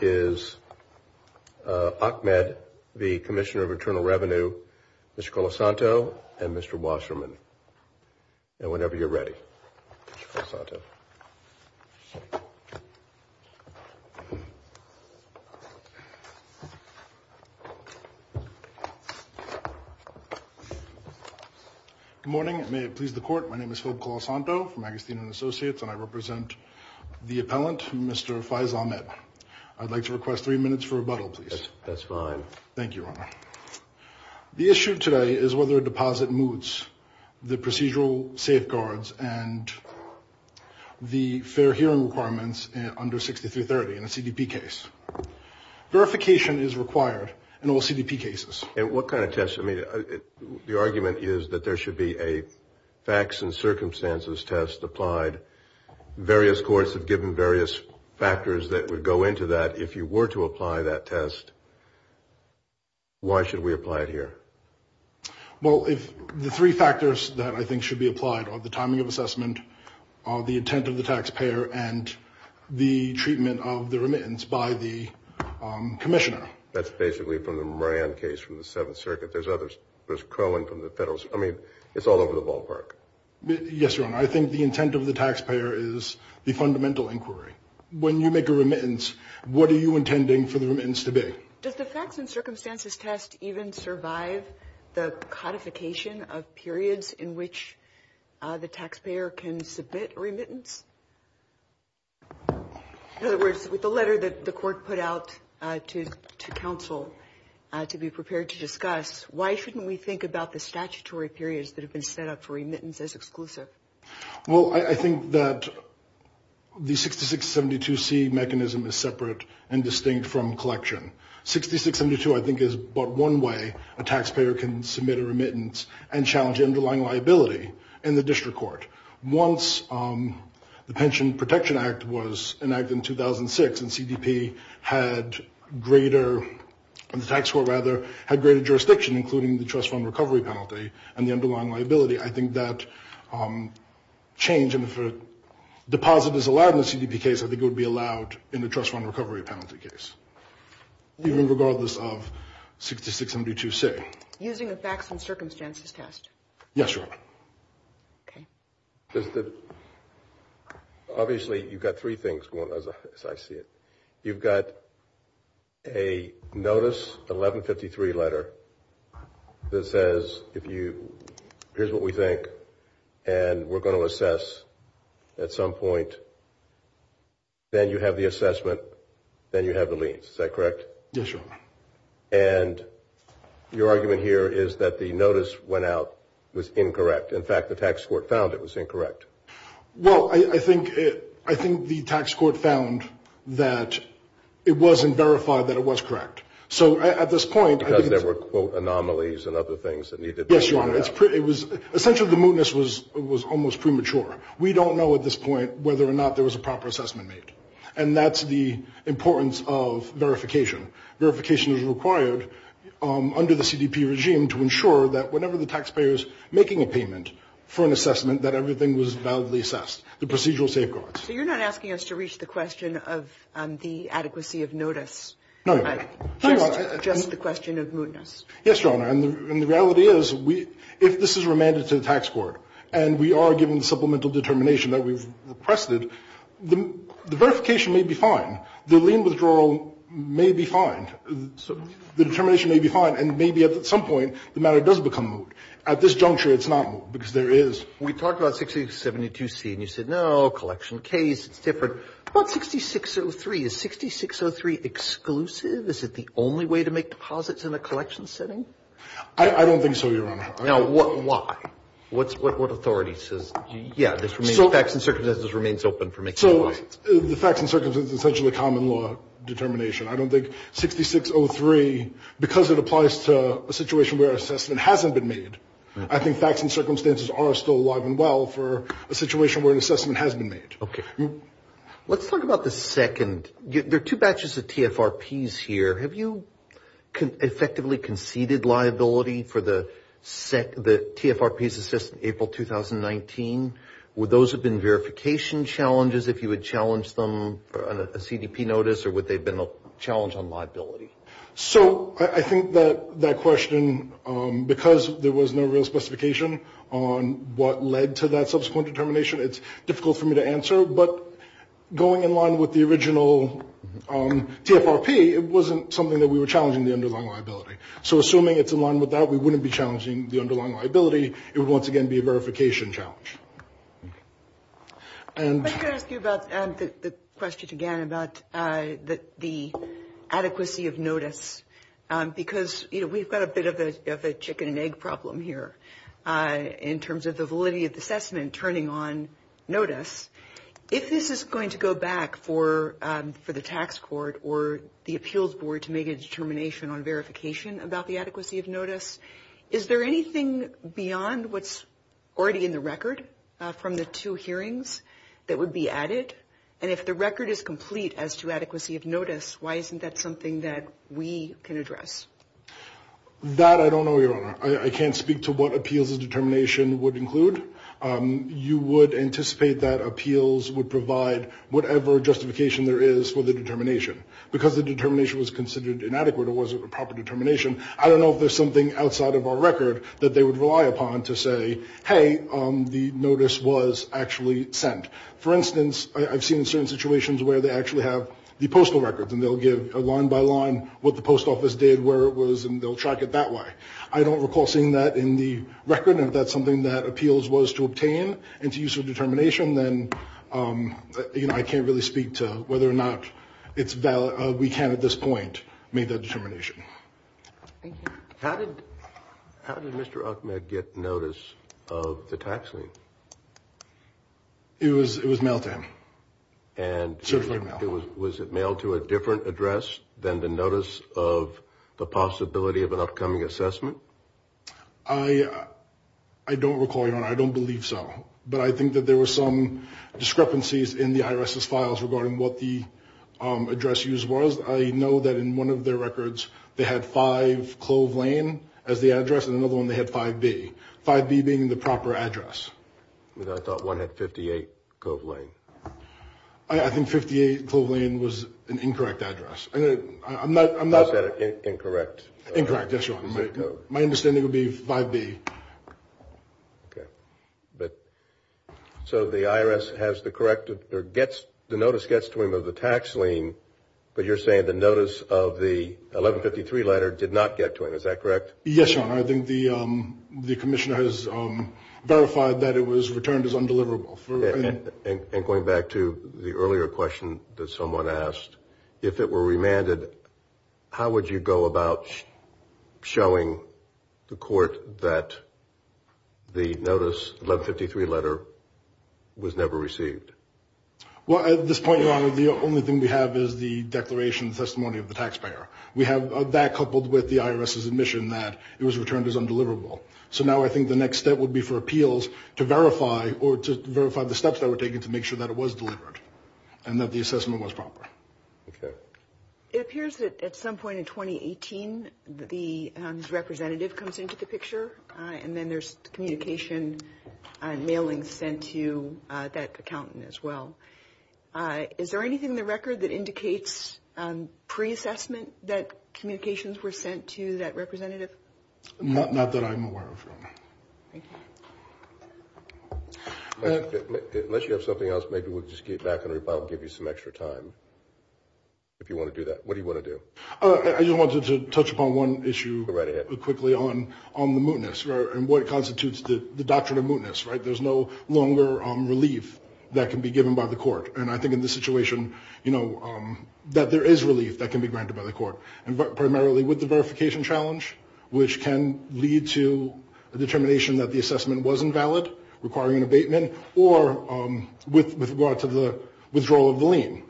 is Ahmed, the Commissioner Of Internal Revenue, Mr. Colasanto, and Mr. Wasserman. And whenever you're ready, Mr. Colasanto. Good morning. May it please the Court, my name is Philip Colasanto from Agustin & Associates and I represent the appellant, Mr. Faiz Ahmed. I'd like to request three minutes for rebuttal, please. That's fine. Thank you, Your Honor. The issue today is whether a deposit moots the procedural safeguards and the fair hearing requirements under 6330 in a CDP case. Verification is required in all CDP cases. And what kind of test? I mean, the argument is that there should be a facts and circumstances test applied. Various courts have given various factors that would go into that. If you were to apply that test, why should we apply it here? Well, the three factors that I think should be applied are the timing of assessment, the intent of the taxpayer, and the treatment of the remittance by the commissioner. That's basically from the Moran case from the Seventh Circuit. There's others. There's Crowling from the Federalist. I mean, it's all over the ballpark. Yes, Your Honor. I think the intent of the taxpayer is the fundamental inquiry. When you make a remittance, what are you intending for the remittance to be? Does the facts and circumstances test even survive the codification of periods in which the taxpayer can submit a remittance? In other words, with the letter that the court put out to counsel to be prepared to discuss, why shouldn't we think about the statutory periods that have been set up for remittance as exclusive? Well, I think that the 6672C mechanism is separate and distinct from collection. 6672, I think, is but one way a taxpayer can submit a remittance and challenge underlying liability in the district court. Once the Pension Protection Act was enacted in 2006 and the tax court had greater jurisdiction, including the trust fund recovery penalty and the underlying liability, I think that change, and if a deposit is allowed in the CDP case, I think it would be allowed in the trust fund recovery penalty case, even regardless of 6672C. Using the facts and circumstances test. Yes, Your Honor. Okay. Obviously, you've got three things, as I see it. You've got a notice, 1153 letter that says, here's what we think, and we're going to assess at some point. Then you have the assessment. Then you have the liens. Is that correct? Yes, Your Honor. And your argument here is that the notice went out was incorrect. In fact, the tax court found it was incorrect. Well, I think the tax court found that it wasn't verified that it was correct. So at this point, I think it's... Because there were, quote, anomalies and other things that needed to be... Yes, Your Honor. It was essentially the mootness was almost premature. We don't know at this point whether or not there was a proper assessment made. And that's the importance of verification. Verification is required under the CDP regime to ensure that whenever the taxpayer is making a payment for an assessment, that everything was validly assessed, the procedural safeguards. So you're not asking us to reach the question of the adequacy of notice. No, Your Honor. Just the question of mootness. Yes, Your Honor. And the reality is, if this is remanded to the tax court, and we are given the supplemental determination that we've requested, the verification may be fine. The lien withdrawal may be fine. The determination may be fine. And maybe at some point, the matter does become moot. At this juncture, it's not moot, because there is... We talked about 6672C, and you said, no, collection case, it's different. But 6603, is 6603 exclusive? Is it the only way to make deposits in a collection setting? I don't think so, Your Honor. Now, why? What authority says, yeah, this remains... Facts and circumstances remains open for making deposits. So the facts and circumstances is essentially common law determination. I don't think 6603, because it applies to a situation where an assessment hasn't been made, I think facts and circumstances are still alive and well for a situation where an assessment has been made. Okay. Let's talk about the second. There are two batches of TFRPs here. Have you effectively conceded liability for the TFRPs assessed in April 2019? Would those have been verification challenges if you had challenged them for a CDP notice, or would they have been a challenge on liability? So I think that question, because there was no real specification on what led to that subsequent determination, it's difficult for me to answer. But going in line with the original TFRP, it wasn't something that we were challenging the underlying liability. So assuming it's in line with that, we wouldn't be challenging the underlying liability. It would once again be a verification challenge. I'm going to ask you about the question again about the adequacy of notice, because we've got a bit of a chicken-and-egg problem here in terms of the validity of the assessment turning on notice. If this is going to go back for the tax court or the appeals board to make a determination on verification about the adequacy of notice, is there anything beyond what's already in the record from the two hearings that would be added? And if the record is complete as to adequacy of notice, why isn't that something that we can address? That I don't know, Your Honor. I can't speak to what appeals and determination would include. You would anticipate that appeals would provide whatever justification there is for the determination. Because the determination was considered inadequate or wasn't a proper determination, I don't know if there's something outside of our record that they would rely upon to say, hey, the notice was actually sent. For instance, I've seen certain situations where they actually have the postal records, and they'll give line by line what the post office did, where it was, and they'll track it that way. I don't recall seeing that in the record. And if that's something that appeals was to obtain and to use for determination, then I can't really speak to whether or not we can at this point make that determination. Thank you. How did Mr. Ahmed get notice of the tax lien? It was mailed to him. And was it mailed to a different address than the notice of the possibility of an upcoming assessment? I don't recall, Your Honor. I don't believe so. But I think that there were some discrepancies in the IRS's files regarding what the address use was. I know that in one of their records they had 5 Clove Lane as the address, and in another one they had 5B. 5B being the proper address. I thought one had 58 Clove Lane. I think 58 Clove Lane was an incorrect address. I'm not that incorrect. Incorrect, yes, Your Honor. My understanding would be 5B. Okay. So the IRS has the corrective or the notice gets to him of the tax lien, but you're saying the notice of the 1153 letter did not get to him. Is that correct? Yes, Your Honor. I think the commissioner has verified that it was returned as undeliverable. And going back to the earlier question that someone asked, if it were remanded, how would you go about showing the court that the notice, the 1153 letter, was never received? Well, at this point, Your Honor, the only thing we have is the declaration, the testimony of the taxpayer. We have that coupled with the IRS's admission that it was returned as undeliverable. So now I think the next step would be for appeals to verify, or to verify the steps that were taken to make sure that it was delivered and that the assessment was proper. Okay. It appears that at some point in 2018, the representative comes into the picture, and then there's communication and mailings sent to that accountant as well. Is there anything in the record that indicates pre-assessment that communications were sent to that representative? Not that I'm aware of, Your Honor. Thank you. Unless you have something else, maybe we'll just get back and give you some extra time if you want to do that. What do you want to do? I just wanted to touch upon one issue quickly on the mootness and what constitutes the doctrine of mootness, right? There's no longer relief that can be given by the court. And I think in this situation, you know, that there is relief that can be granted by the court, primarily with the verification challenge, which can lead to a determination that the assessment wasn't valid, requiring an abatement, or with regard to the withdrawal of the lien.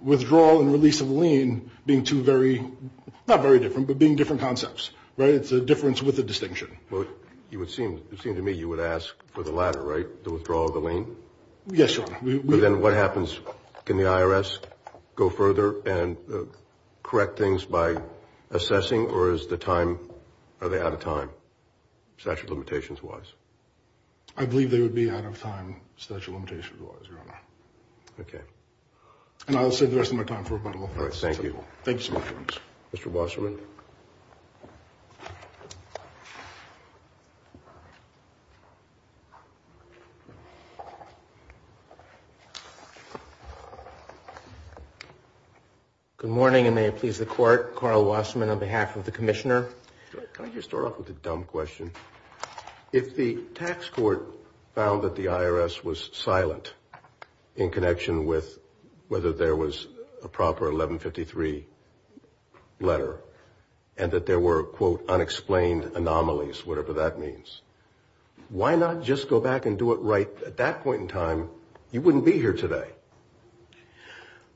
Withdrawal and release of the lien being two very, not very different, but being different concepts, right? It's a difference with a distinction. Well, it would seem to me you would ask for the latter, right, the withdrawal of the lien? Yes, Your Honor. Then what happens? Can the IRS go further and correct things by assessing, or is the time, are they out of time, statute of limitations-wise? I believe they would be out of time, statute of limitations-wise, Your Honor. Okay. And I'll save the rest of my time for rebuttal. All right, thank you. Thank you so much. Mr. Wasserman. Good morning, and may it please the Court, Carl Wasserman on behalf of the Commissioner. Can I just start off with a dumb question? If the tax court found that the IRS was silent in connection with whether there was a proper 1153 letter, and that there were, quote, unexplained anomalies, whatever that means, why not just go back and do it right at that point in time? You wouldn't be here today.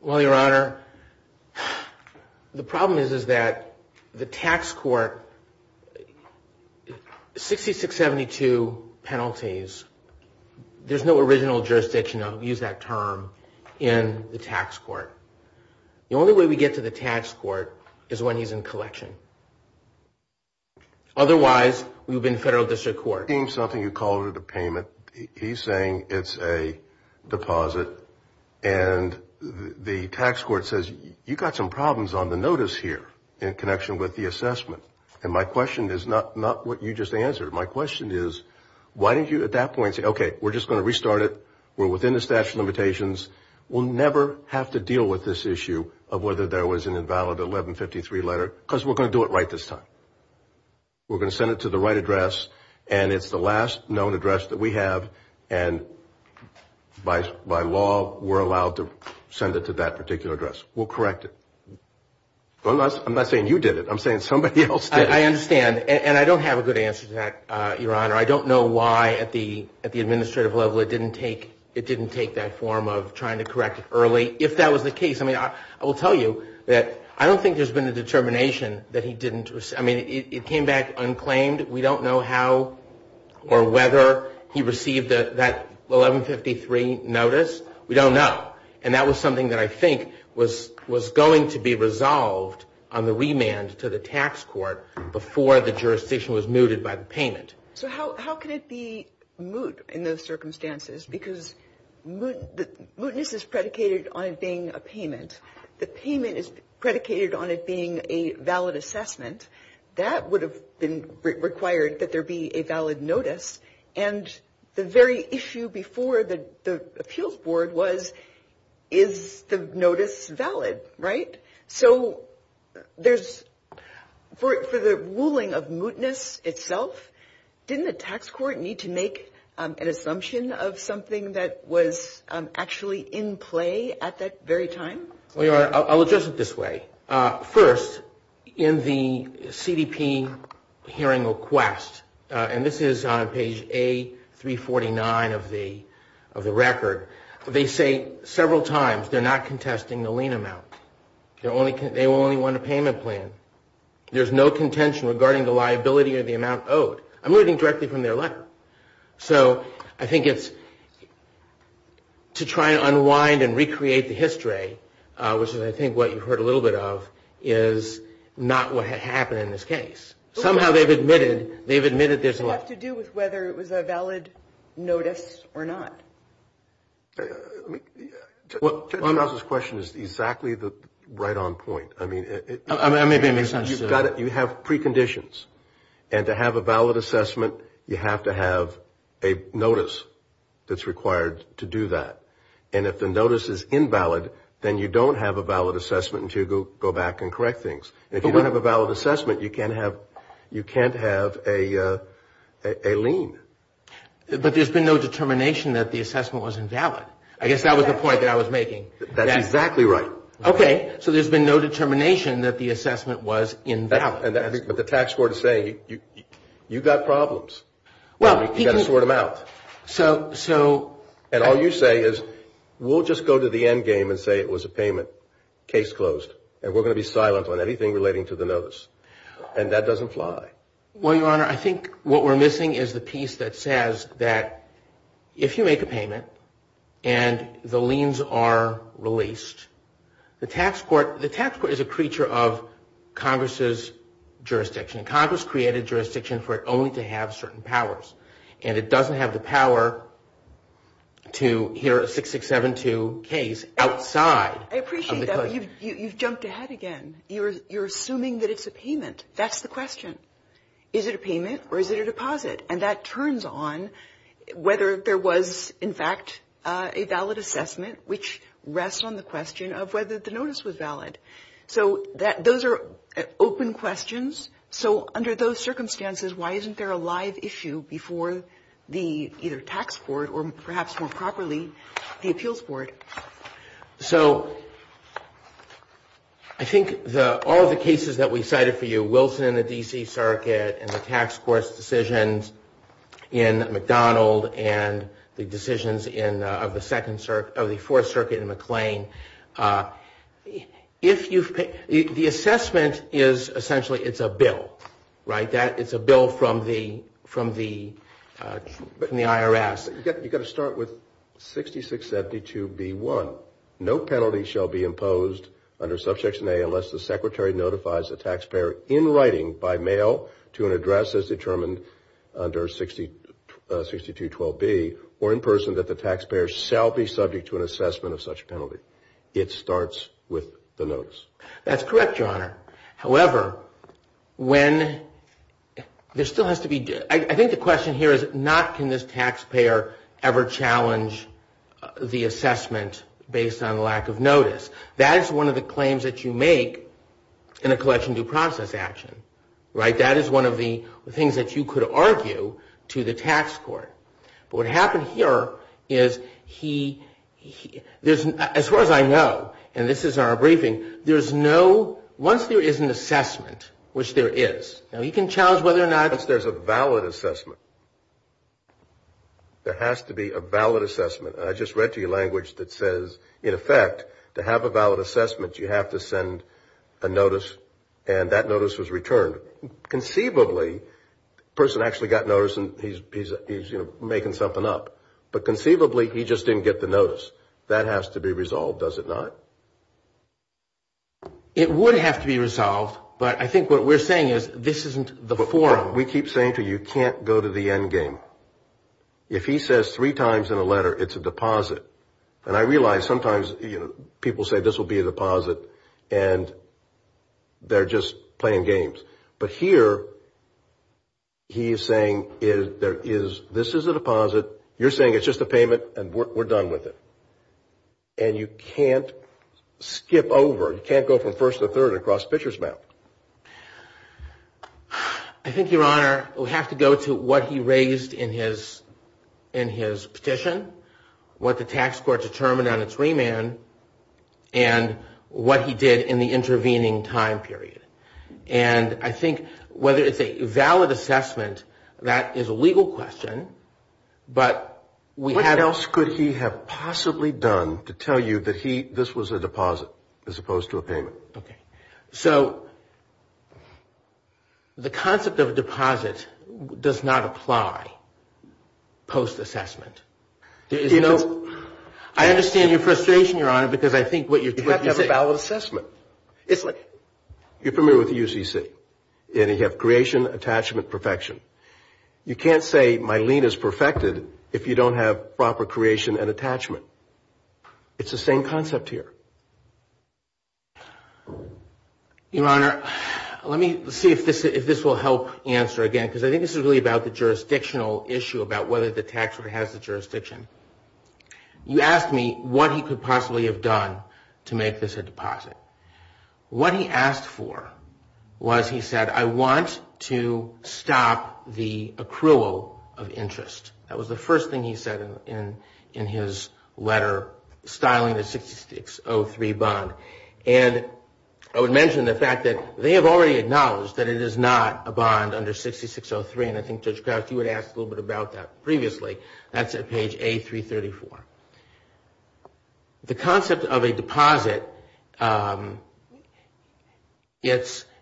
Well, Your Honor, the problem is that the tax court, 6672 penalties, there's no original jurisdiction, I'll use that term, in the tax court. The only way we get to the tax court is when he's in collection. Otherwise, we would be in federal district court. He's saying it's a deposit, and the tax court says, you've got some problems on the notice here in connection with the assessment. And my question is not what you just answered. My question is, why didn't you at that point say, okay, we're just going to restart it, we're within the statute of limitations, we'll never have to deal with this issue of whether there was an invalid 1153 letter, because we're going to do it right this time. We're going to send it to the right address, and it's the last known address that we have, and by law we're allowed to send it to that particular address. We'll correct it. I'm not saying you did it. I'm saying somebody else did it. I understand, and I don't have a good answer to that, Your Honor. I don't know why at the administrative level it didn't take that form of trying to correct it early. If that was the case, I mean, I will tell you that I don't think there's been a determination that he didn't. I mean, it came back unclaimed. We don't know how or whether he received that 1153 notice. We don't know. And that was something that I think was going to be resolved on the remand to the tax court before the jurisdiction was mooted by the payment. So how could it be moot in those circumstances? Because mootness is predicated on it being a payment. The payment is predicated on it being a valid assessment. That would have been required that there be a valid notice. And the very issue before the appeals board was, is the notice valid, right? So there's, for the ruling of mootness itself, didn't the tax court need to make an assumption of something that was actually in play at that very time? Well, Your Honor, I'll address it this way. First, in the CDP hearing request, and this is on page A349 of the record, they say several times they're not contesting the lien amount. They only want a payment plan. There's no contention regarding the liability or the amount owed. I'm reading directly from their letter. So I think it's to try to unwind and recreate the history, which is I think what you've heard a little bit of, is not what had happened in this case. Somehow they've admitted there's a lot to do with whether it was a valid notice or not. Judge Krause's question is exactly the right on point. I mean, you have preconditions. And to have a valid assessment, you have to have a notice that's required to do that. And if the notice is invalid, then you don't have a valid assessment until you go back and correct things. If you don't have a valid assessment, you can't have a lien. But there's been no determination that the assessment was invalid. I guess that was the point that I was making. That's exactly right. Okay. So there's been no determination that the assessment was invalid. But the tax court is saying you've got problems. You've got to sort them out. And all you say is we'll just go to the end game and say it was a payment, case closed, and we're going to be silent on anything relating to the notice. And that doesn't fly. Well, Your Honor, I think what we're missing is the piece that says that if you make a payment and the liens are released, the tax court is a creature of Congress's jurisdiction. Congress created jurisdiction for it only to have certain powers. And it doesn't have the power to hear a 6672 case outside of the court. I appreciate that, but you've jumped ahead again. You're assuming that it's a payment. That's the question. Is it a payment or is it a deposit? And that turns on whether there was, in fact, a valid assessment, which rests on the question of whether the notice was valid. So those are open questions. So under those circumstances, why isn't there a live issue before either the tax court or, perhaps more properly, the appeals board? So I think all of the cases that we cited for you, the Wilson in the D.C. Circuit and the tax court's decisions in McDonald and the decisions of the Fourth Circuit in McLean, the assessment is essentially it's a bill, right? It's a bill from the IRS. You've got to start with 6672B1. No penalty shall be imposed under Subsection A unless the secretary notifies the taxpayer in writing by mail to an address as determined under 6212B or in person that the taxpayer shall be subject to an assessment of such penalty. It starts with the notice. That's correct, Your Honor. However, when there still has to be – I think the question here is not can this taxpayer ever challenge the assessment based on lack of notice. That is one of the claims that you make in a collection due process action, right? That is one of the things that you could argue to the tax court. But what happened here is he – as far as I know, and this is our briefing, there's no – once there is an assessment, which there is, now he can challenge whether or not – Once there's a valid assessment. There has to be a valid assessment. I just read to you language that says, in effect, to have a valid assessment, you have to send a notice and that notice was returned. Conceivably, the person actually got notice and he's making something up. But conceivably, he just didn't get the notice. That has to be resolved, does it not? It would have to be resolved, but I think what we're saying is this isn't the forum. We keep saying to you, you can't go to the end game. If he says three times in a letter, it's a deposit. And I realize sometimes people say this will be a deposit and they're just playing games. But here he is saying there is – this is a deposit. You're saying it's just a payment and we're done with it. And you can't skip over. You can't go from first to third and cross Fisher's map. I think, Your Honor, we have to go to what he raised in his petition, what the tax court determined on its remand, and what he did in the intervening time period. And I think whether it's a valid assessment, that is a legal question, but we have – it's possibly done to tell you that he – this was a deposit as opposed to a payment. Okay. So the concept of a deposit does not apply post-assessment. I understand your frustration, Your Honor, because I think what you're – You have to have a valid assessment. It's like – You're familiar with the UCC, and you have creation, attachment, perfection. You can't say my lien is perfected if you don't have proper creation and attachment. It's the same concept here. Your Honor, let me see if this will help answer again, because I think this is really about the jurisdictional issue, about whether the tax court has the jurisdiction. You asked me what he could possibly have done to make this a deposit. What he asked for was, he said, I want to stop the accrual of interest. That was the first thing he said in his letter styling the 6603 bond. And I would mention the fact that they have already acknowledged that it is not a bond under 6603, and I think Judge Crouch, you had asked a little bit about that previously. That's at page A334. The concept of a deposit, it's –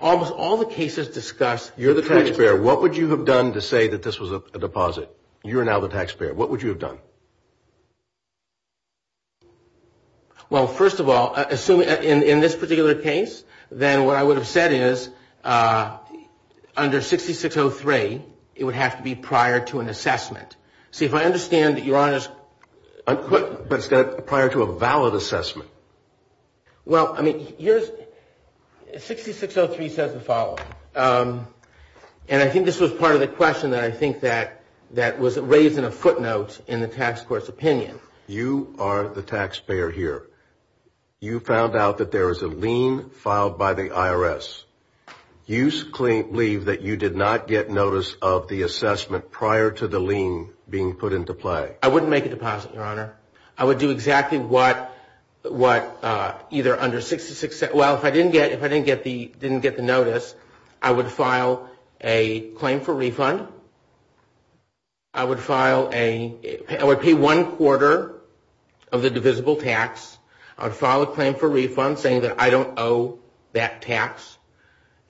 Almost all the cases discuss – You're the taxpayer. What would you have done to say that this was a deposit? You're now the taxpayer. What would you have done? Well, first of all, in this particular case, then what I would have said is, under 6603, it would have to be prior to an assessment. See, if I understand that Your Honor's – But it's prior to a valid assessment. Well, I mean, here's – 6603 says the following. And I think this was part of the question that I think that was raised in a footnote in the tax court's opinion. You are the taxpayer here. You found out that there is a lien filed by the IRS. You believe that you did not get notice of the assessment prior to the lien being put into play. I wouldn't make a deposit, Your Honor. I would do exactly what either under 6603 – Well, if I didn't get the notice, I would file a claim for refund. I would file a – I would pay one quarter of the divisible tax. I would file a claim for refund saying that I don't owe that tax.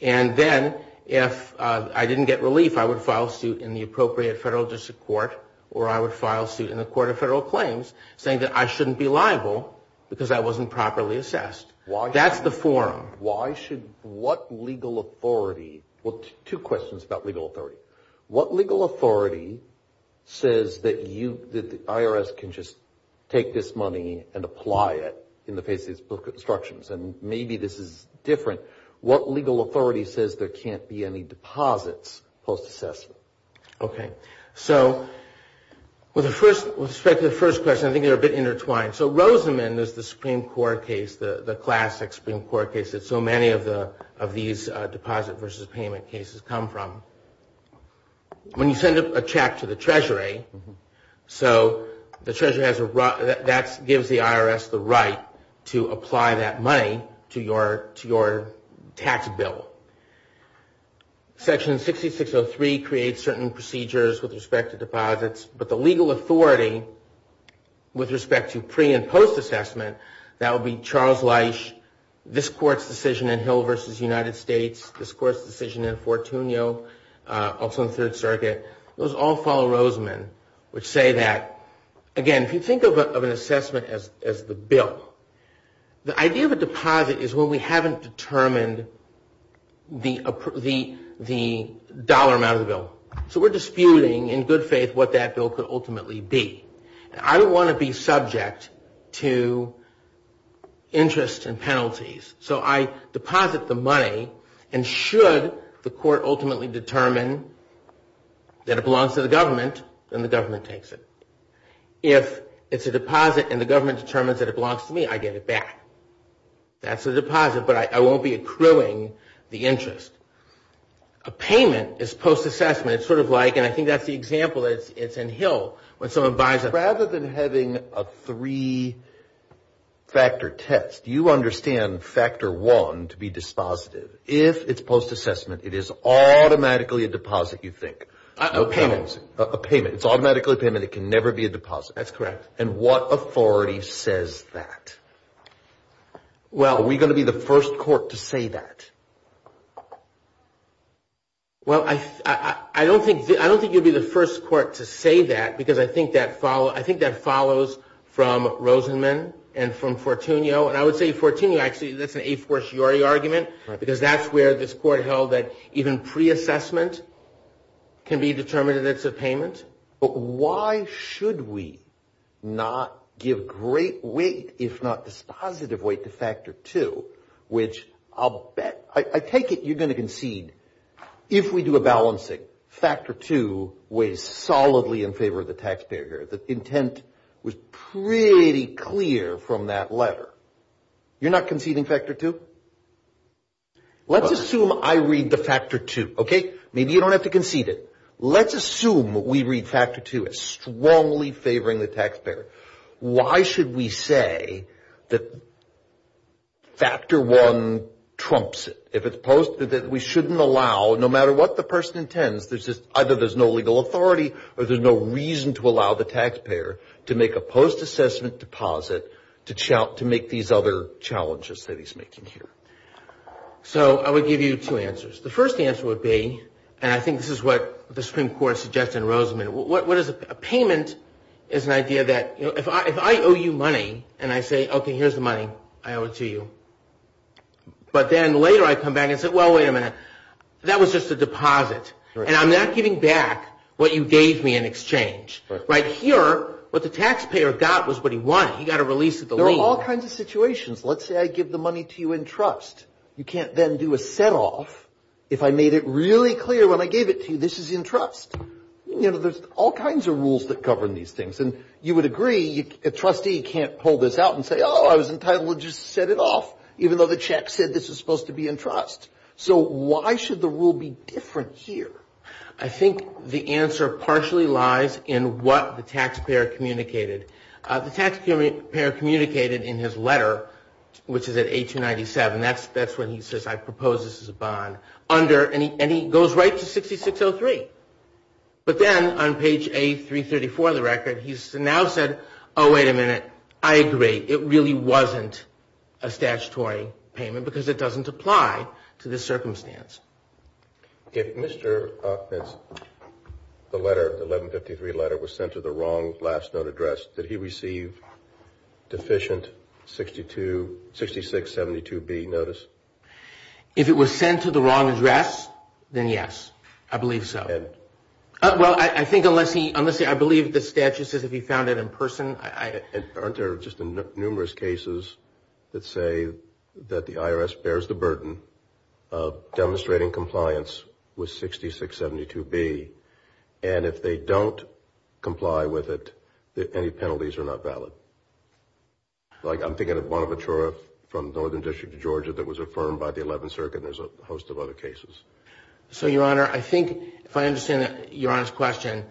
And then if I didn't get relief, I would file suit in the appropriate federal district court or I would file suit in the court of federal claims saying that I shouldn't be liable because I wasn't properly assessed. That's the forum. Why should – what legal authority – well, two questions about legal authority. What legal authority says that you – that the IRS can just take this money and apply it in the face of these book instructions? And maybe this is different. What legal authority says there can't be any deposits post-assessment? Okay. So with respect to the first question, I think they're a bit intertwined. So Rosamond is the Supreme Court case, the classic Supreme Court case that so many of these deposit versus payment cases come from. When you send a check to the Treasury, so the Treasury has a – that gives the IRS the right to apply that money to your tax bill. Section 6603 creates certain procedures with respect to deposits, but the legal authority with respect to pre- and post-assessment, that would be Charles Leisch, this court's decision in Hill v. United States, this court's decision in Fortunio, also in the Third Circuit. Those all follow Rosamond, which say that, again, if you think of an assessment as the bill, the idea of a deposit is when we haven't determined the dollar amount of the bill. So we're disputing in good faith what that bill could ultimately be. I don't want to be subject to interest and penalties. So I deposit the money, and should the court ultimately determine that it belongs to the government, then the government takes it. If it's a deposit and the government determines that it belongs to me, I get it back. That's a deposit, but I won't be accruing the interest. A payment is post-assessment. It's sort of like, and I think that's the example, it's in Hill. Rather than having a three-factor test, you understand factor one to be dispositive. If it's post-assessment, it is automatically a deposit, you think. A payment. A payment. It's automatically a payment. It can never be a deposit. That's correct. And what authority says that? Are we going to be the first court to say that? Well, I don't think you'd be the first court to say that, because I think that follows from Rosenman and from Fortunio. And I would say Fortunio, actually, that's an a force jury argument, because that's where this court held that even pre-assessment can be determined that it's a payment. But why should we not give great weight, if not dispositive weight, to factor two, which I'll bet, I take it you're going to concede. If we do a balancing, factor two weighs solidly in favor of the taxpayer here. The intent was pretty clear from that letter. You're not conceding factor two? Let's assume I read the factor two, okay? Maybe you don't have to concede it. Why should we say that factor one trumps it? If it's posted that we shouldn't allow, no matter what the person intends, either there's no legal authority or there's no reason to allow the taxpayer to make a post-assessment deposit to make these other challenges that he's making here. So I would give you two answers. The first answer would be, and I think this is what the Supreme Court suggested in Rosenman, a payment is an idea that if I owe you money and I say, okay, here's the money, I owe it to you. But then later I come back and say, well, wait a minute, that was just a deposit. And I'm not giving back what you gave me in exchange. Right here, what the taxpayer got was what he won. He got a release of the lien. There are all kinds of situations. Let's say I give the money to you in trust. You can't then do a set-off if I made it really clear when I gave it to you this is in trust. You know, there's all kinds of rules that govern these things. And you would agree, a trustee can't pull this out and say, oh, I was entitled to just set it off, even though the check said this was supposed to be in trust. So why should the rule be different here? I think the answer partially lies in what the taxpayer communicated. The taxpayer communicated in his letter, which is at 1897, that's when he says I propose this as a bond, and he goes right to 6603. But then on page A334 of the record, he's now said, oh, wait a minute, I agree, it really wasn't a statutory payment because it doesn't apply to this circumstance. If Mr. Aukman's letter, the 1153 letter, was sent to the wrong last note address, did he receive deficient 6672B notice? If it was sent to the wrong address, then yes, I believe so. Well, I think unless he, I believe the statute says if he found it in person. Aren't there just numerous cases that say that the IRS bears the burden of demonstrating compliance with 6672B, and if they don't comply with it, any penalties are not valid? I'm thinking of Bonaventura from the Northern District of Georgia that was affirmed by the 11th Circuit, and there's a host of other cases. So, Your Honor, I think if I understand Your Honor's question,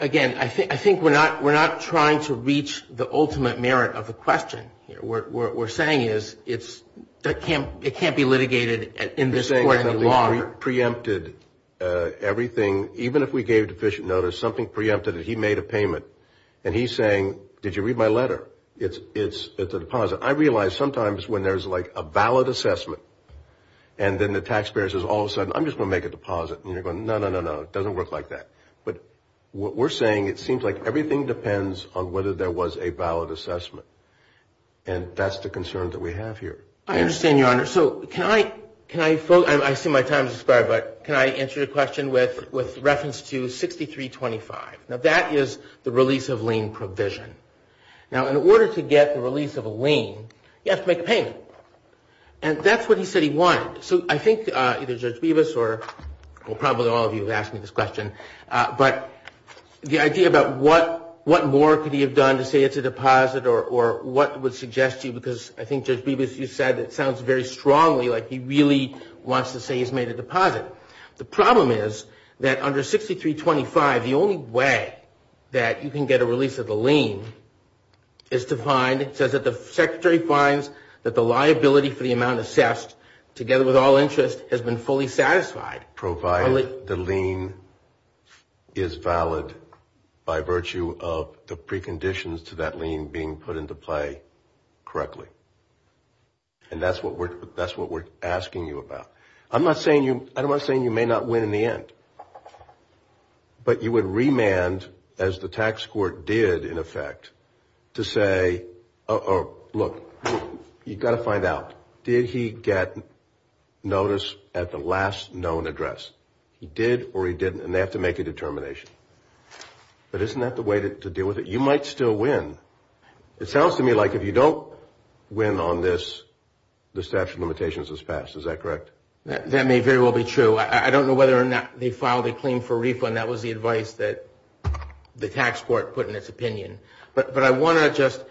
again, I think we're not trying to reach the ultimate merit of the question here. What we're saying is it can't be litigated in this court any longer. We're saying something preempted everything. Even if we gave deficient notice, something preempted it. He made a payment, and he's saying, did you read my letter? It's a deposit. I realize sometimes when there's, like, a valid assessment, and then the taxpayer says, all of a sudden, I'm just going to make a deposit, and you're going, no, no, no, no, it doesn't work like that. But what we're saying, it seems like everything depends on whether there was a valid assessment, and that's the concern that we have here. I understand, Your Honor. Your Honor, so can I, I assume my time has expired, but can I answer your question with reference to 6325? Now, that is the release of lien provision. Now, in order to get the release of a lien, you have to make a payment, and that's what he said he wanted. So I think either Judge Bevis or probably all of you have asked me this question, but the idea about what more could he have done to say it's a deposit or what would suggest to you, because I think Judge Bevis, you said it sounds very strongly like he really wants to say he's made a deposit. The problem is that under 6325, the only way that you can get a release of the lien is to find, it says that the secretary finds that the liability for the amount assessed, together with all interest, has been fully satisfied. The lien is valid by virtue of the preconditions to that lien being put into play correctly. And that's what we're asking you about. I'm not saying you may not win in the end, but you would remand, as the tax court did, in effect, to say, look, you've got to find out, did he get notice at the last known address? He did or he didn't, and they have to make a determination. But isn't that the way to deal with it? You might still win. It sounds to me like if you don't win on this, the statute of limitations is passed. Is that correct? That may very well be true. I don't know whether or not they filed a claim for refund. That was the advice that the tax court put in its opinion. But I want to just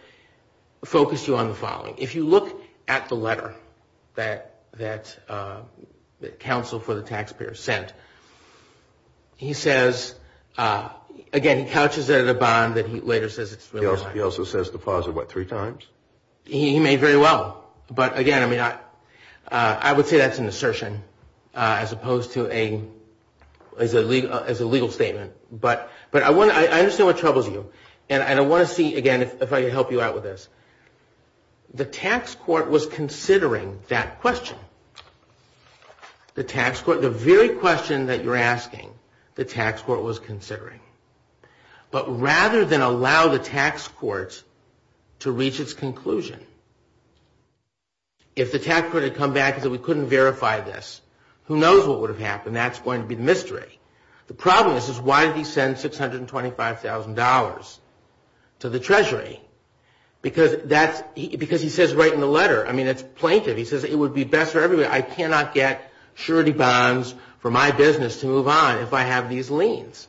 focus you on the following. If you look at the letter that counsel for the taxpayer sent, he says, again, he couches it in a bond that he later says it's really not. He also says the clause, what, three times? He may very well. But, again, I would say that's an assertion as opposed to a legal statement. But I understand what troubles you. And I want to see, again, if I can help you out with this. The tax court was considering that question. The tax court, the very question that you're asking, the tax court was considering. But rather than allow the tax court to reach its conclusion, if the tax court had come back and said we couldn't verify this, who knows what would have happened. That's going to be the mystery. The problem is why did he send $625,000 to the treasury? Because he says right in the letter, I mean, it's plaintive. He says it would be best for everybody. I cannot get surety bonds for my business to move on if I have these liens.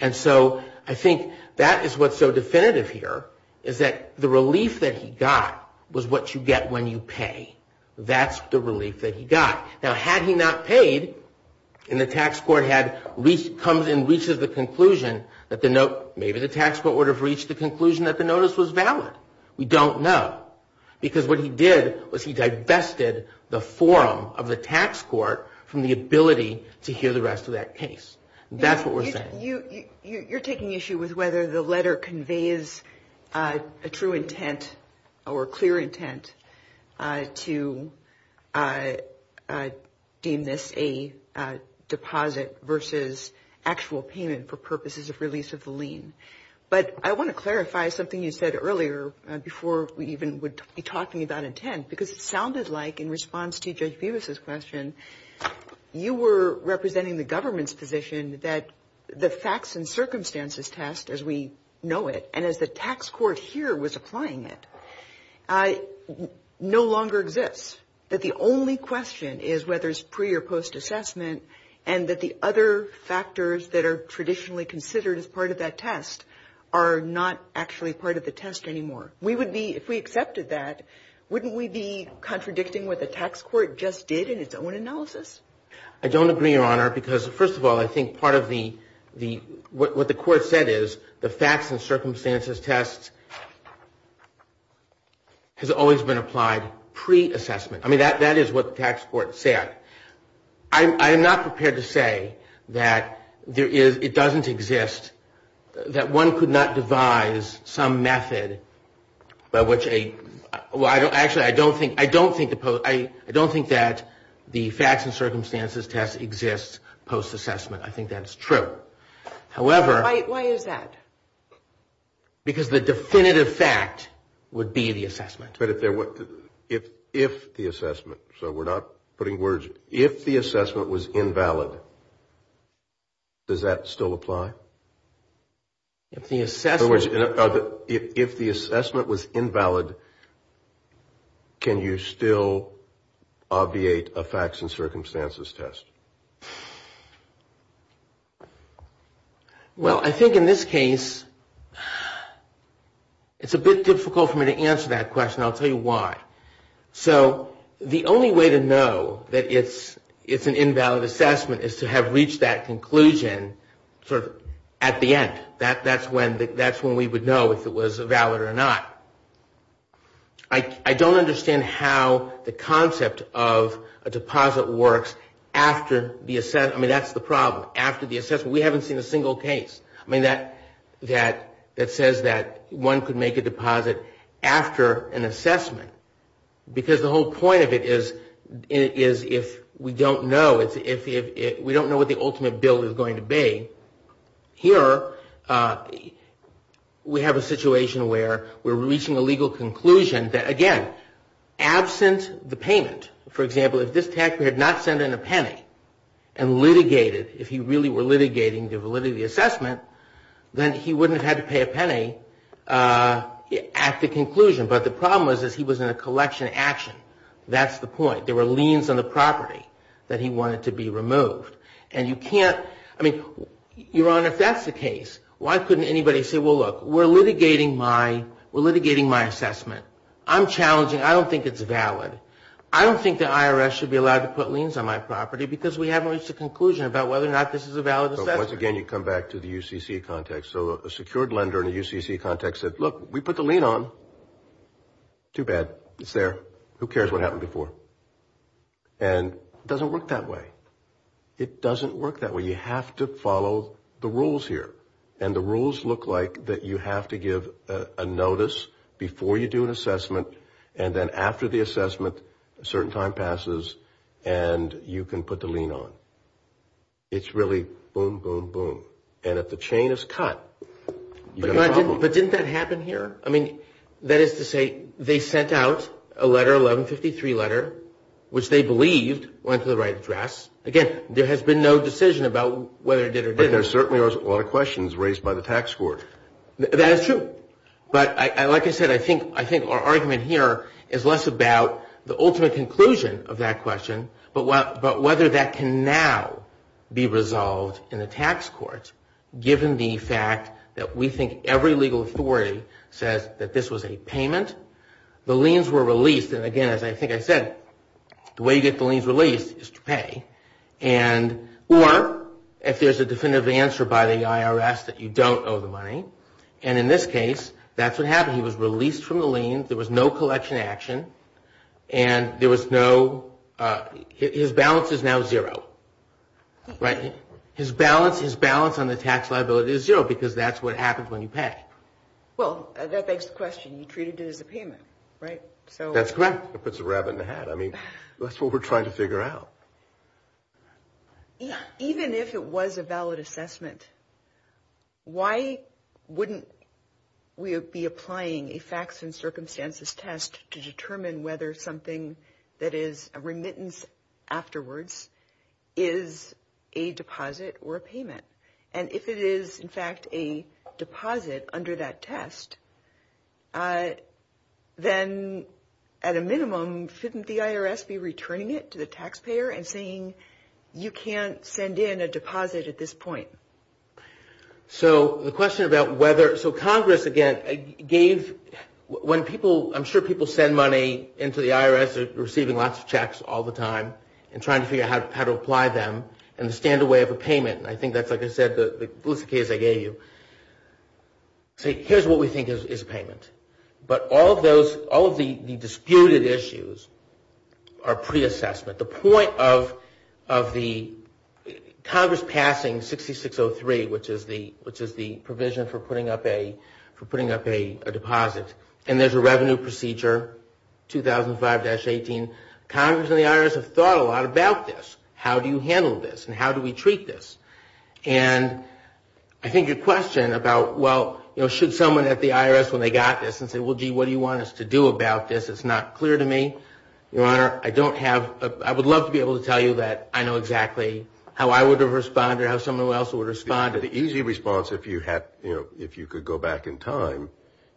And so I think that is what's so definitive here, is that the relief that he got was what you get when you pay. That's the relief that he got. Now, had he not paid and the tax court had come and reached the conclusion, maybe the tax court would have reached the conclusion that the notice was valid. We don't know. Because what he did was he divested the forum of the tax court from the ability to hear the rest of that case. That's what we're saying. You're taking issue with whether the letter conveys a true intent or a clear intent to deem this a deposit versus actual payment for purposes of release of the lien. But I want to clarify something you said earlier before we even would be talking about intent, because it sounded like in response to Judge Bevis' question, you were representing the government's position that the facts and circumstances test as we know it, and as the tax court here was applying it, no longer exists, that the only question is whether it's pre- or post-assessment and that the other factors that are traditionally considered as part of that test are not actually part of the test anymore. If we accepted that, wouldn't we be contradicting what the tax court just did in its own analysis? I don't agree, Your Honor, because, first of all, I think part of what the court said is the facts and circumstances test has always been applied pre-assessment. I mean, that is what the tax court said. I'm not prepared to say that it doesn't exist, that one could not devise some method by which a – well, actually, I don't think that the facts and circumstances test exists post-assessment. I think that's true. Why is that? Because the definitive fact would be the assessment. But if the assessment – so we're not putting words – if the assessment was invalid, does that still apply? If the assessment – In other words, if the assessment was invalid, can you still obviate a facts and circumstances test? Well, I think in this case, it's a bit difficult for me to answer that question. I'll tell you why. So the only way to know that it's an invalid assessment is to have reached that conclusion at the end. That's when we would know if it was valid or not. I don't understand how the concept of a deposit works after the – I mean, that's the problem. After the assessment, we haven't seen a single case that says that one could make a deposit after an assessment. Because the whole point of it is if we don't know – we don't know what the ultimate bill is going to be. Here, we have a situation where we're reaching a legal conclusion that, again, absent the payment – for example, if this taxpayer had not sent in a penny and litigated – if he really were litigating the validity assessment, then he wouldn't have had to pay a penny at the conclusion. But the problem is he was in a collection action. That's the point. There were liens on the property that he wanted to be removed. And you can't – I mean, Your Honor, if that's the case, why couldn't anybody say, well, look, we're litigating my assessment. I'm challenging. I don't think it's valid. I don't think the IRS should be allowed to put liens on my property because we haven't reached a conclusion about whether or not this is a valid assessment. Once again, you come back to the UCC context. So a secured lender in a UCC context said, look, we put the lien on. Too bad. It's there. Who cares what happened before? And it doesn't work that way. It doesn't work that way. You have to follow the rules here. And the rules look like that you have to give a notice before you do an assessment and then after the assessment a certain time passes and you can put the lien on. It's really boom, boom, boom. And if the chain is cut, you've got a problem. But didn't that happen here? I mean, that is to say they sent out a letter, 1153 letter, which they believed went to the right address. Again, there has been no decision about whether it did or didn't. But there certainly are a lot of questions raised by the tax court. That is true. But like I said, I think our argument here is less about the ultimate conclusion of that question but whether that can now be resolved in the tax court given the fact that we think every legal authority says that this was a payment. The liens were released. And again, as I think I said, the way you get the liens released is to pay. Or if there's a definitive answer by the IRS that you don't owe the money. And in this case, that's what happened. He was released from the lien. There was no collection action. And there was no – his balance is now zero. Right? His balance on the tax liability is zero because that's what happens when you pay. Well, that begs the question. You treated it as a payment, right? That's correct. It puts a rabbit in a hat. I mean, that's what we're trying to figure out. Even if it was a valid assessment, why wouldn't we be applying a facts and circumstances test to determine whether something that is a remittance afterwards is a deposit or a payment? And if it is, in fact, a deposit under that test, then at a minimum shouldn't the IRS be returning it to the taxpayer and saying you can't send in a deposit at this point? So the question about whether – so Congress, again, gave – when people – I'm sure people send money into the IRS, they're receiving lots of checks all the time, and trying to figure out how to apply them, and the standaway of a payment – and I think that's, like I said, the ballistic case I gave you – say here's what we think is a payment. But all of those – all of the disputed issues are pre-assessment. The point of the Congress passing 6603, which is the provision for putting up a deposit. And there's a revenue procedure, 2005-18. Congress and the IRS have thought a lot about this. How do you handle this, and how do we treat this? And I think your question about, well, should someone at the IRS, when they got this, and said, well, gee, what do you want us to do about this? It's not clear to me. Your Honor, I don't have – I would love to be able to tell you that I know exactly how I would have responded, or how someone else would respond. The easy response, if you could go back in time,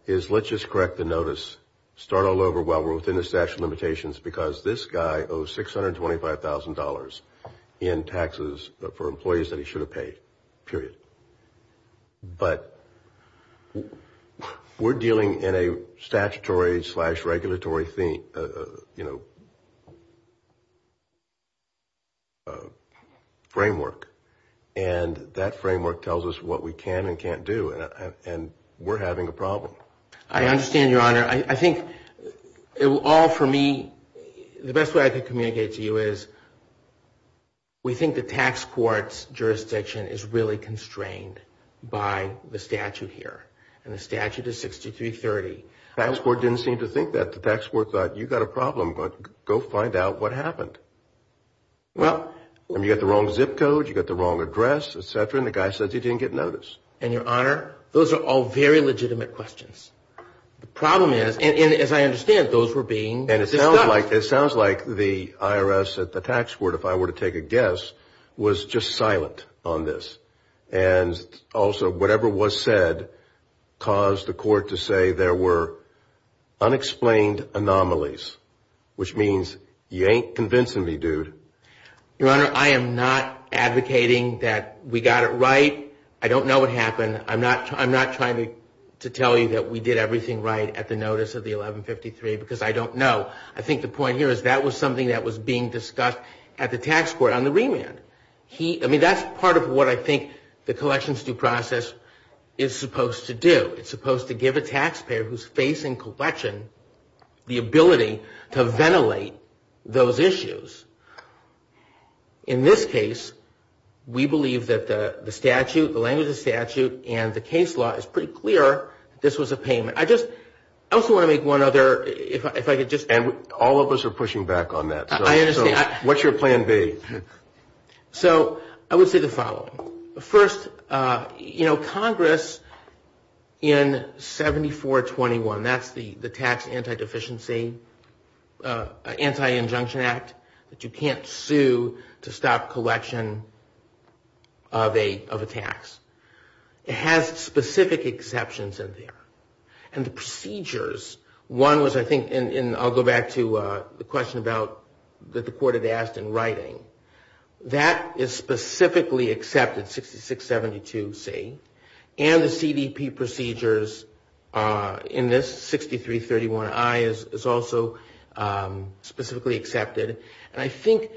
is let's just correct the notice, start all over while we're within the statute of limitations, because this guy owes $625,000 in taxes for employees that he should have paid, period. But we're dealing in a statutory-slash-regulatory framework, and that framework tells us what we can and can't do, and we're having a problem. I understand, Your Honor. I think it will all, for me, the best way I can communicate to you is, we think the tax court's jurisdiction is really constrained by the statute here, and the statute is 6330. The tax court didn't seem to think that. The tax court thought, you've got a problem. Go find out what happened. You've got the wrong zip code, you've got the wrong address, et cetera, and the guy says he didn't get notice. And, Your Honor, those are all very legitimate questions. The problem is, and as I understand, those were being discussed. And it sounds like the IRS at the tax court, if I were to take a guess, was just silent on this. And also, whatever was said caused the court to say there were unexplained anomalies, which means you ain't convincing me, dude. Your Honor, I am not advocating that we got it right. I don't know what happened. I'm not trying to tell you that we did everything right at the notice of the 1153, because I don't know. I think the point here is that was something that was being discussed at the tax court on the remand. I mean, that's part of what I think the collections due process is supposed to do. It's supposed to give a taxpayer who's facing collection the ability to ventilate those issues. In this case, we believe that the statute, the language of the statute, and the case law is pretty clear that this was a payment. I just also want to make one other, if I could just. And all of us are pushing back on that. I understand. What's your plan B? So I would say the following. First, you know, Congress in 7421, that's the tax anti-deficiency, anti-injunction act, that you can't sue to stop collection of a tax. It has specific exceptions in there. And the procedures, one was I think, and I'll go back to the question about, that the court had asked in writing. That is specifically accepted, 6672C. And the CDP procedures in this 6331I is also specifically accepted. And I think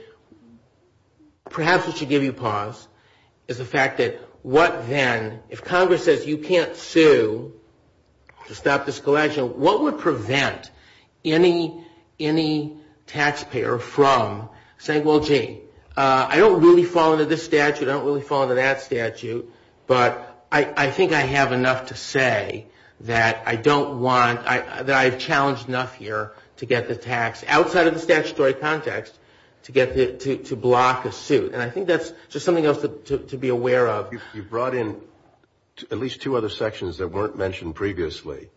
perhaps what should give you pause is the fact that what then, if Congress says you can't sue to stop this collection, what would prevent any taxpayer from saying, well, gee, I don't really fall under this statute. I don't really fall under that statute. But I think I have enough to say that I don't want, that I have challenged enough here to get the tax outside of the statutory context to block a suit. And I think that's just something else to be aware of. You brought in at least two other sections that weren't mentioned previously.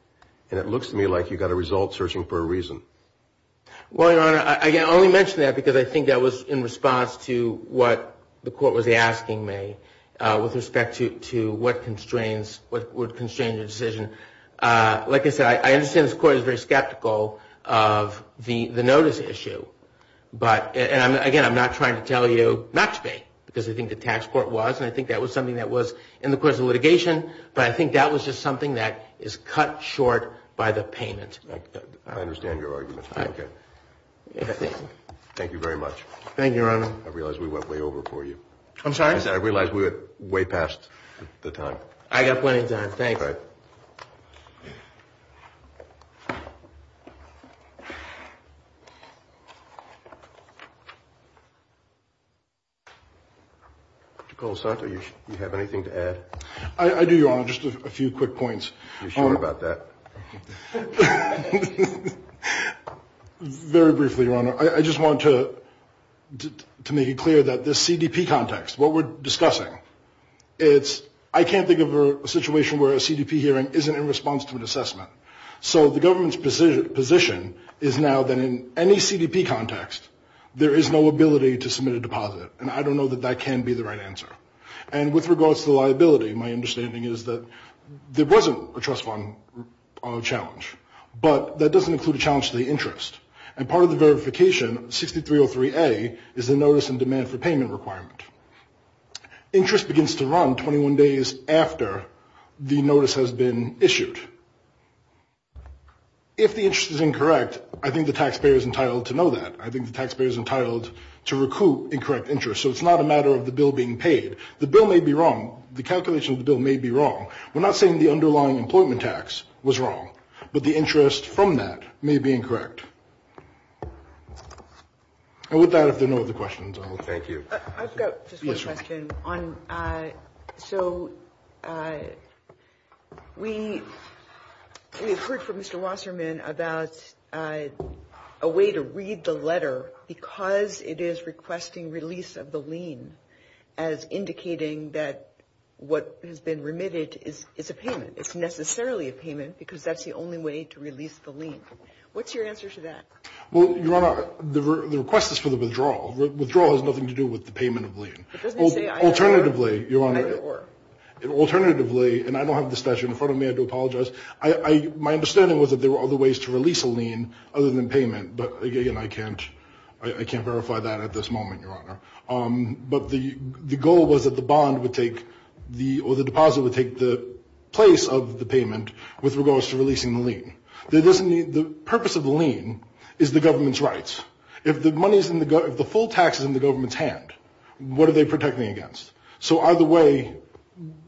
And it looks to me like you got a result searching for a reason. Well, Your Honor, I only mention that because I think that was in response to what the court was asking me with respect to what constrains, what would constrain the decision. Like I said, I understand this court is very skeptical of the notice issue. But again, I'm not trying to tell you not to pay because I think the tax court was. And I think that was something that was in the course of litigation. But I think that was just something that is cut short by the payment. I understand your argument. Thank you very much. Thank you, Your Honor. I realize we went way over for you. I'm sorry? I realize we went way past the time. I got plenty of time. Thank you. All right. Mr. Colasato, do you have anything to add? I do, Your Honor. Just a few quick points. You sure about that? Very briefly, Your Honor. I just want to make it clear that this CDP context, what we're discussing, I can't think of a situation where a CDP hearing isn't in response to an assessment. So the government's position is now that in any CDP context, there is no ability to submit a deposit. And I don't know that that can be the right answer. And with regards to liability, my understanding is that there wasn't a trust fund challenge. But that doesn't include a challenge to the interest. And part of the verification, 6303A, is the notice in demand for payment requirement. Interest begins to run 21 days after the notice has been issued. If the interest is incorrect, I think the taxpayer is entitled to know that. I think the taxpayer is entitled to recoup incorrect interest. So it's not a matter of the bill being paid. The bill may be wrong. The calculation of the bill may be wrong. We're not saying the underlying employment tax was wrong. But the interest from that may be incorrect. And with that, if there are no other questions. Thank you. I've got just one question. So we have heard from Mr. Wasserman about a way to read the letter because it is requesting release of the lien as indicating that what has been remitted is a payment. It's necessarily a payment because that's the only way to release the lien. What's your answer to that? Well, Your Honor, the request is for the withdrawal. Withdrawal has nothing to do with the payment of lien. It doesn't say either. Alternatively, Your Honor, alternatively, and I don't have the statute in front of me. I do apologize. My understanding was that there were other ways to release a lien other than payment. But, again, I can't verify that at this moment, Your Honor. But the goal was that the bond would take the or the deposit would take the place of the payment with regards to releasing the lien. The purpose of the lien is the government's rights. If the money is in the government, if the full tax is in the government's hand, what are they protecting against? So either way,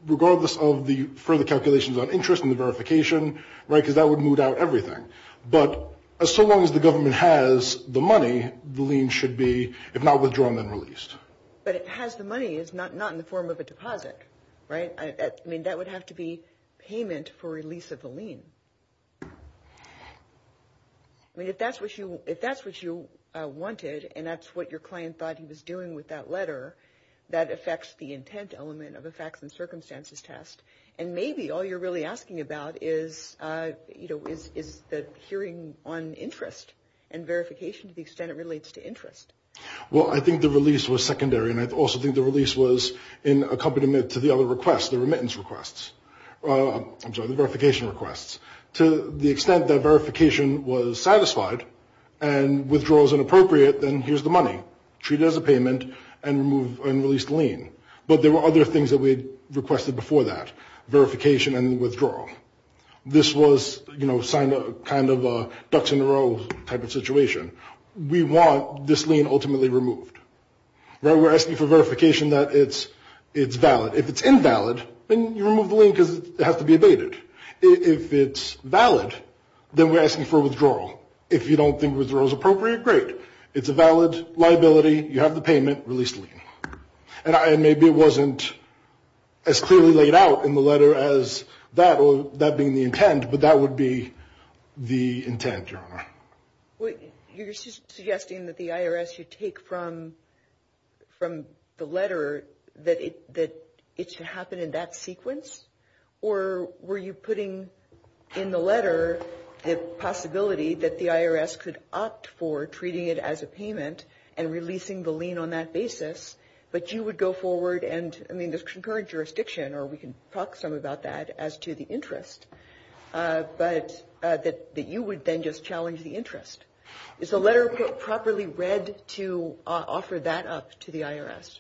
regardless of the further calculations on interest and the verification, right, because that would moot out everything. But so long as the government has the money, the lien should be, if not withdrawn, then released. But it has the money. It's not in the form of a deposit, right? I mean, that would have to be payment for release of the lien. I mean, if that's what you wanted and that's what your client thought he was doing with that letter, that affects the intent element of a facts and circumstances test. And maybe all you're really asking about is, you know, is the hearing on interest and verification to the extent it relates to interest. Well, I think the release was secondary, and I also think the release was in accompaniment to the other requests, the remittance requests. I'm sorry, the verification requests. To the extent that verification was satisfied and withdrawal is inappropriate, then here's the money. But there were other things that we requested before that, verification and withdrawal. This was, you know, kind of a ducks in a row type of situation. We want this lien ultimately removed. We're asking for verification that it's valid. If it's invalid, then you remove the lien because it has to be abated. If it's valid, then we're asking for withdrawal. If you don't think withdrawal is appropriate, great. It's a valid liability. You have the payment. Release the lien. And maybe it wasn't as clearly laid out in the letter as that or that being the intent, but that would be the intent, Your Honor. You're suggesting that the IRS should take from the letter that it should happen in that sequence? Or were you putting in the letter the possibility that the IRS could opt for treating it as a payment and releasing the lien on that basis, but you would go forward and, I mean, there's concurrent jurisdiction or we can talk some about that as to the interest, but that you would then just challenge the interest. Is the letter properly read to offer that up to the IRS?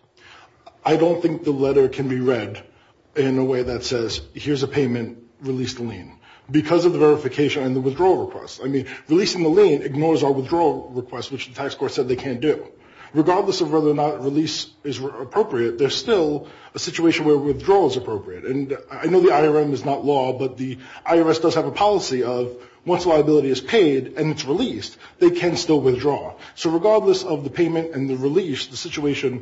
I don't think the letter can be read in a way that says, here's a payment, release the lien, because of the verification and the withdrawal request. I mean, releasing the lien ignores our withdrawal request, which the tax court said they can't do. Regardless of whether or not release is appropriate, there's still a situation where withdrawal is appropriate. And I know the IRM is not law, but the IRS does have a policy of once liability is paid and it's released, they can still withdraw. So regardless of the payment and the release, the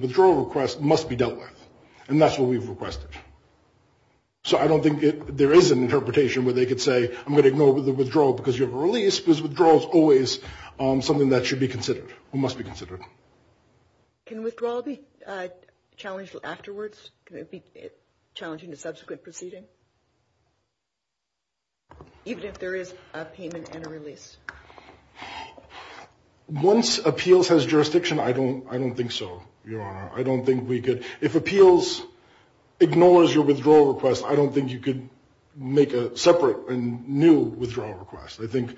withdrawal request must be dealt with. And that's what we've requested. So I don't think there is an interpretation where they could say, I'm going to ignore the withdrawal because you have a release, because withdrawal is always something that should be considered or must be considered. Can withdrawal be challenged afterwards? Challenging the subsequent proceeding? Even if there is a payment and a release? Once appeals has jurisdiction, I don't think so, Your Honor. I don't think we could. If appeals ignores your withdrawal request, I don't think you could make a separate and new withdrawal request. I think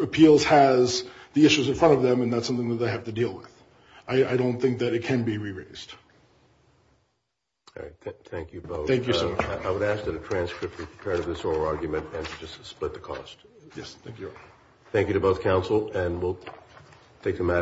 appeals has the issues in front of them, and that's something that they have to deal with. I don't think that it can be re-raised. Thank you both. Thank you, sir. I would ask that a transcript be prepared of this oral argument and just split the cost. Yes, thank you, Your Honor. Thank you to both counsel, and we'll take the matter.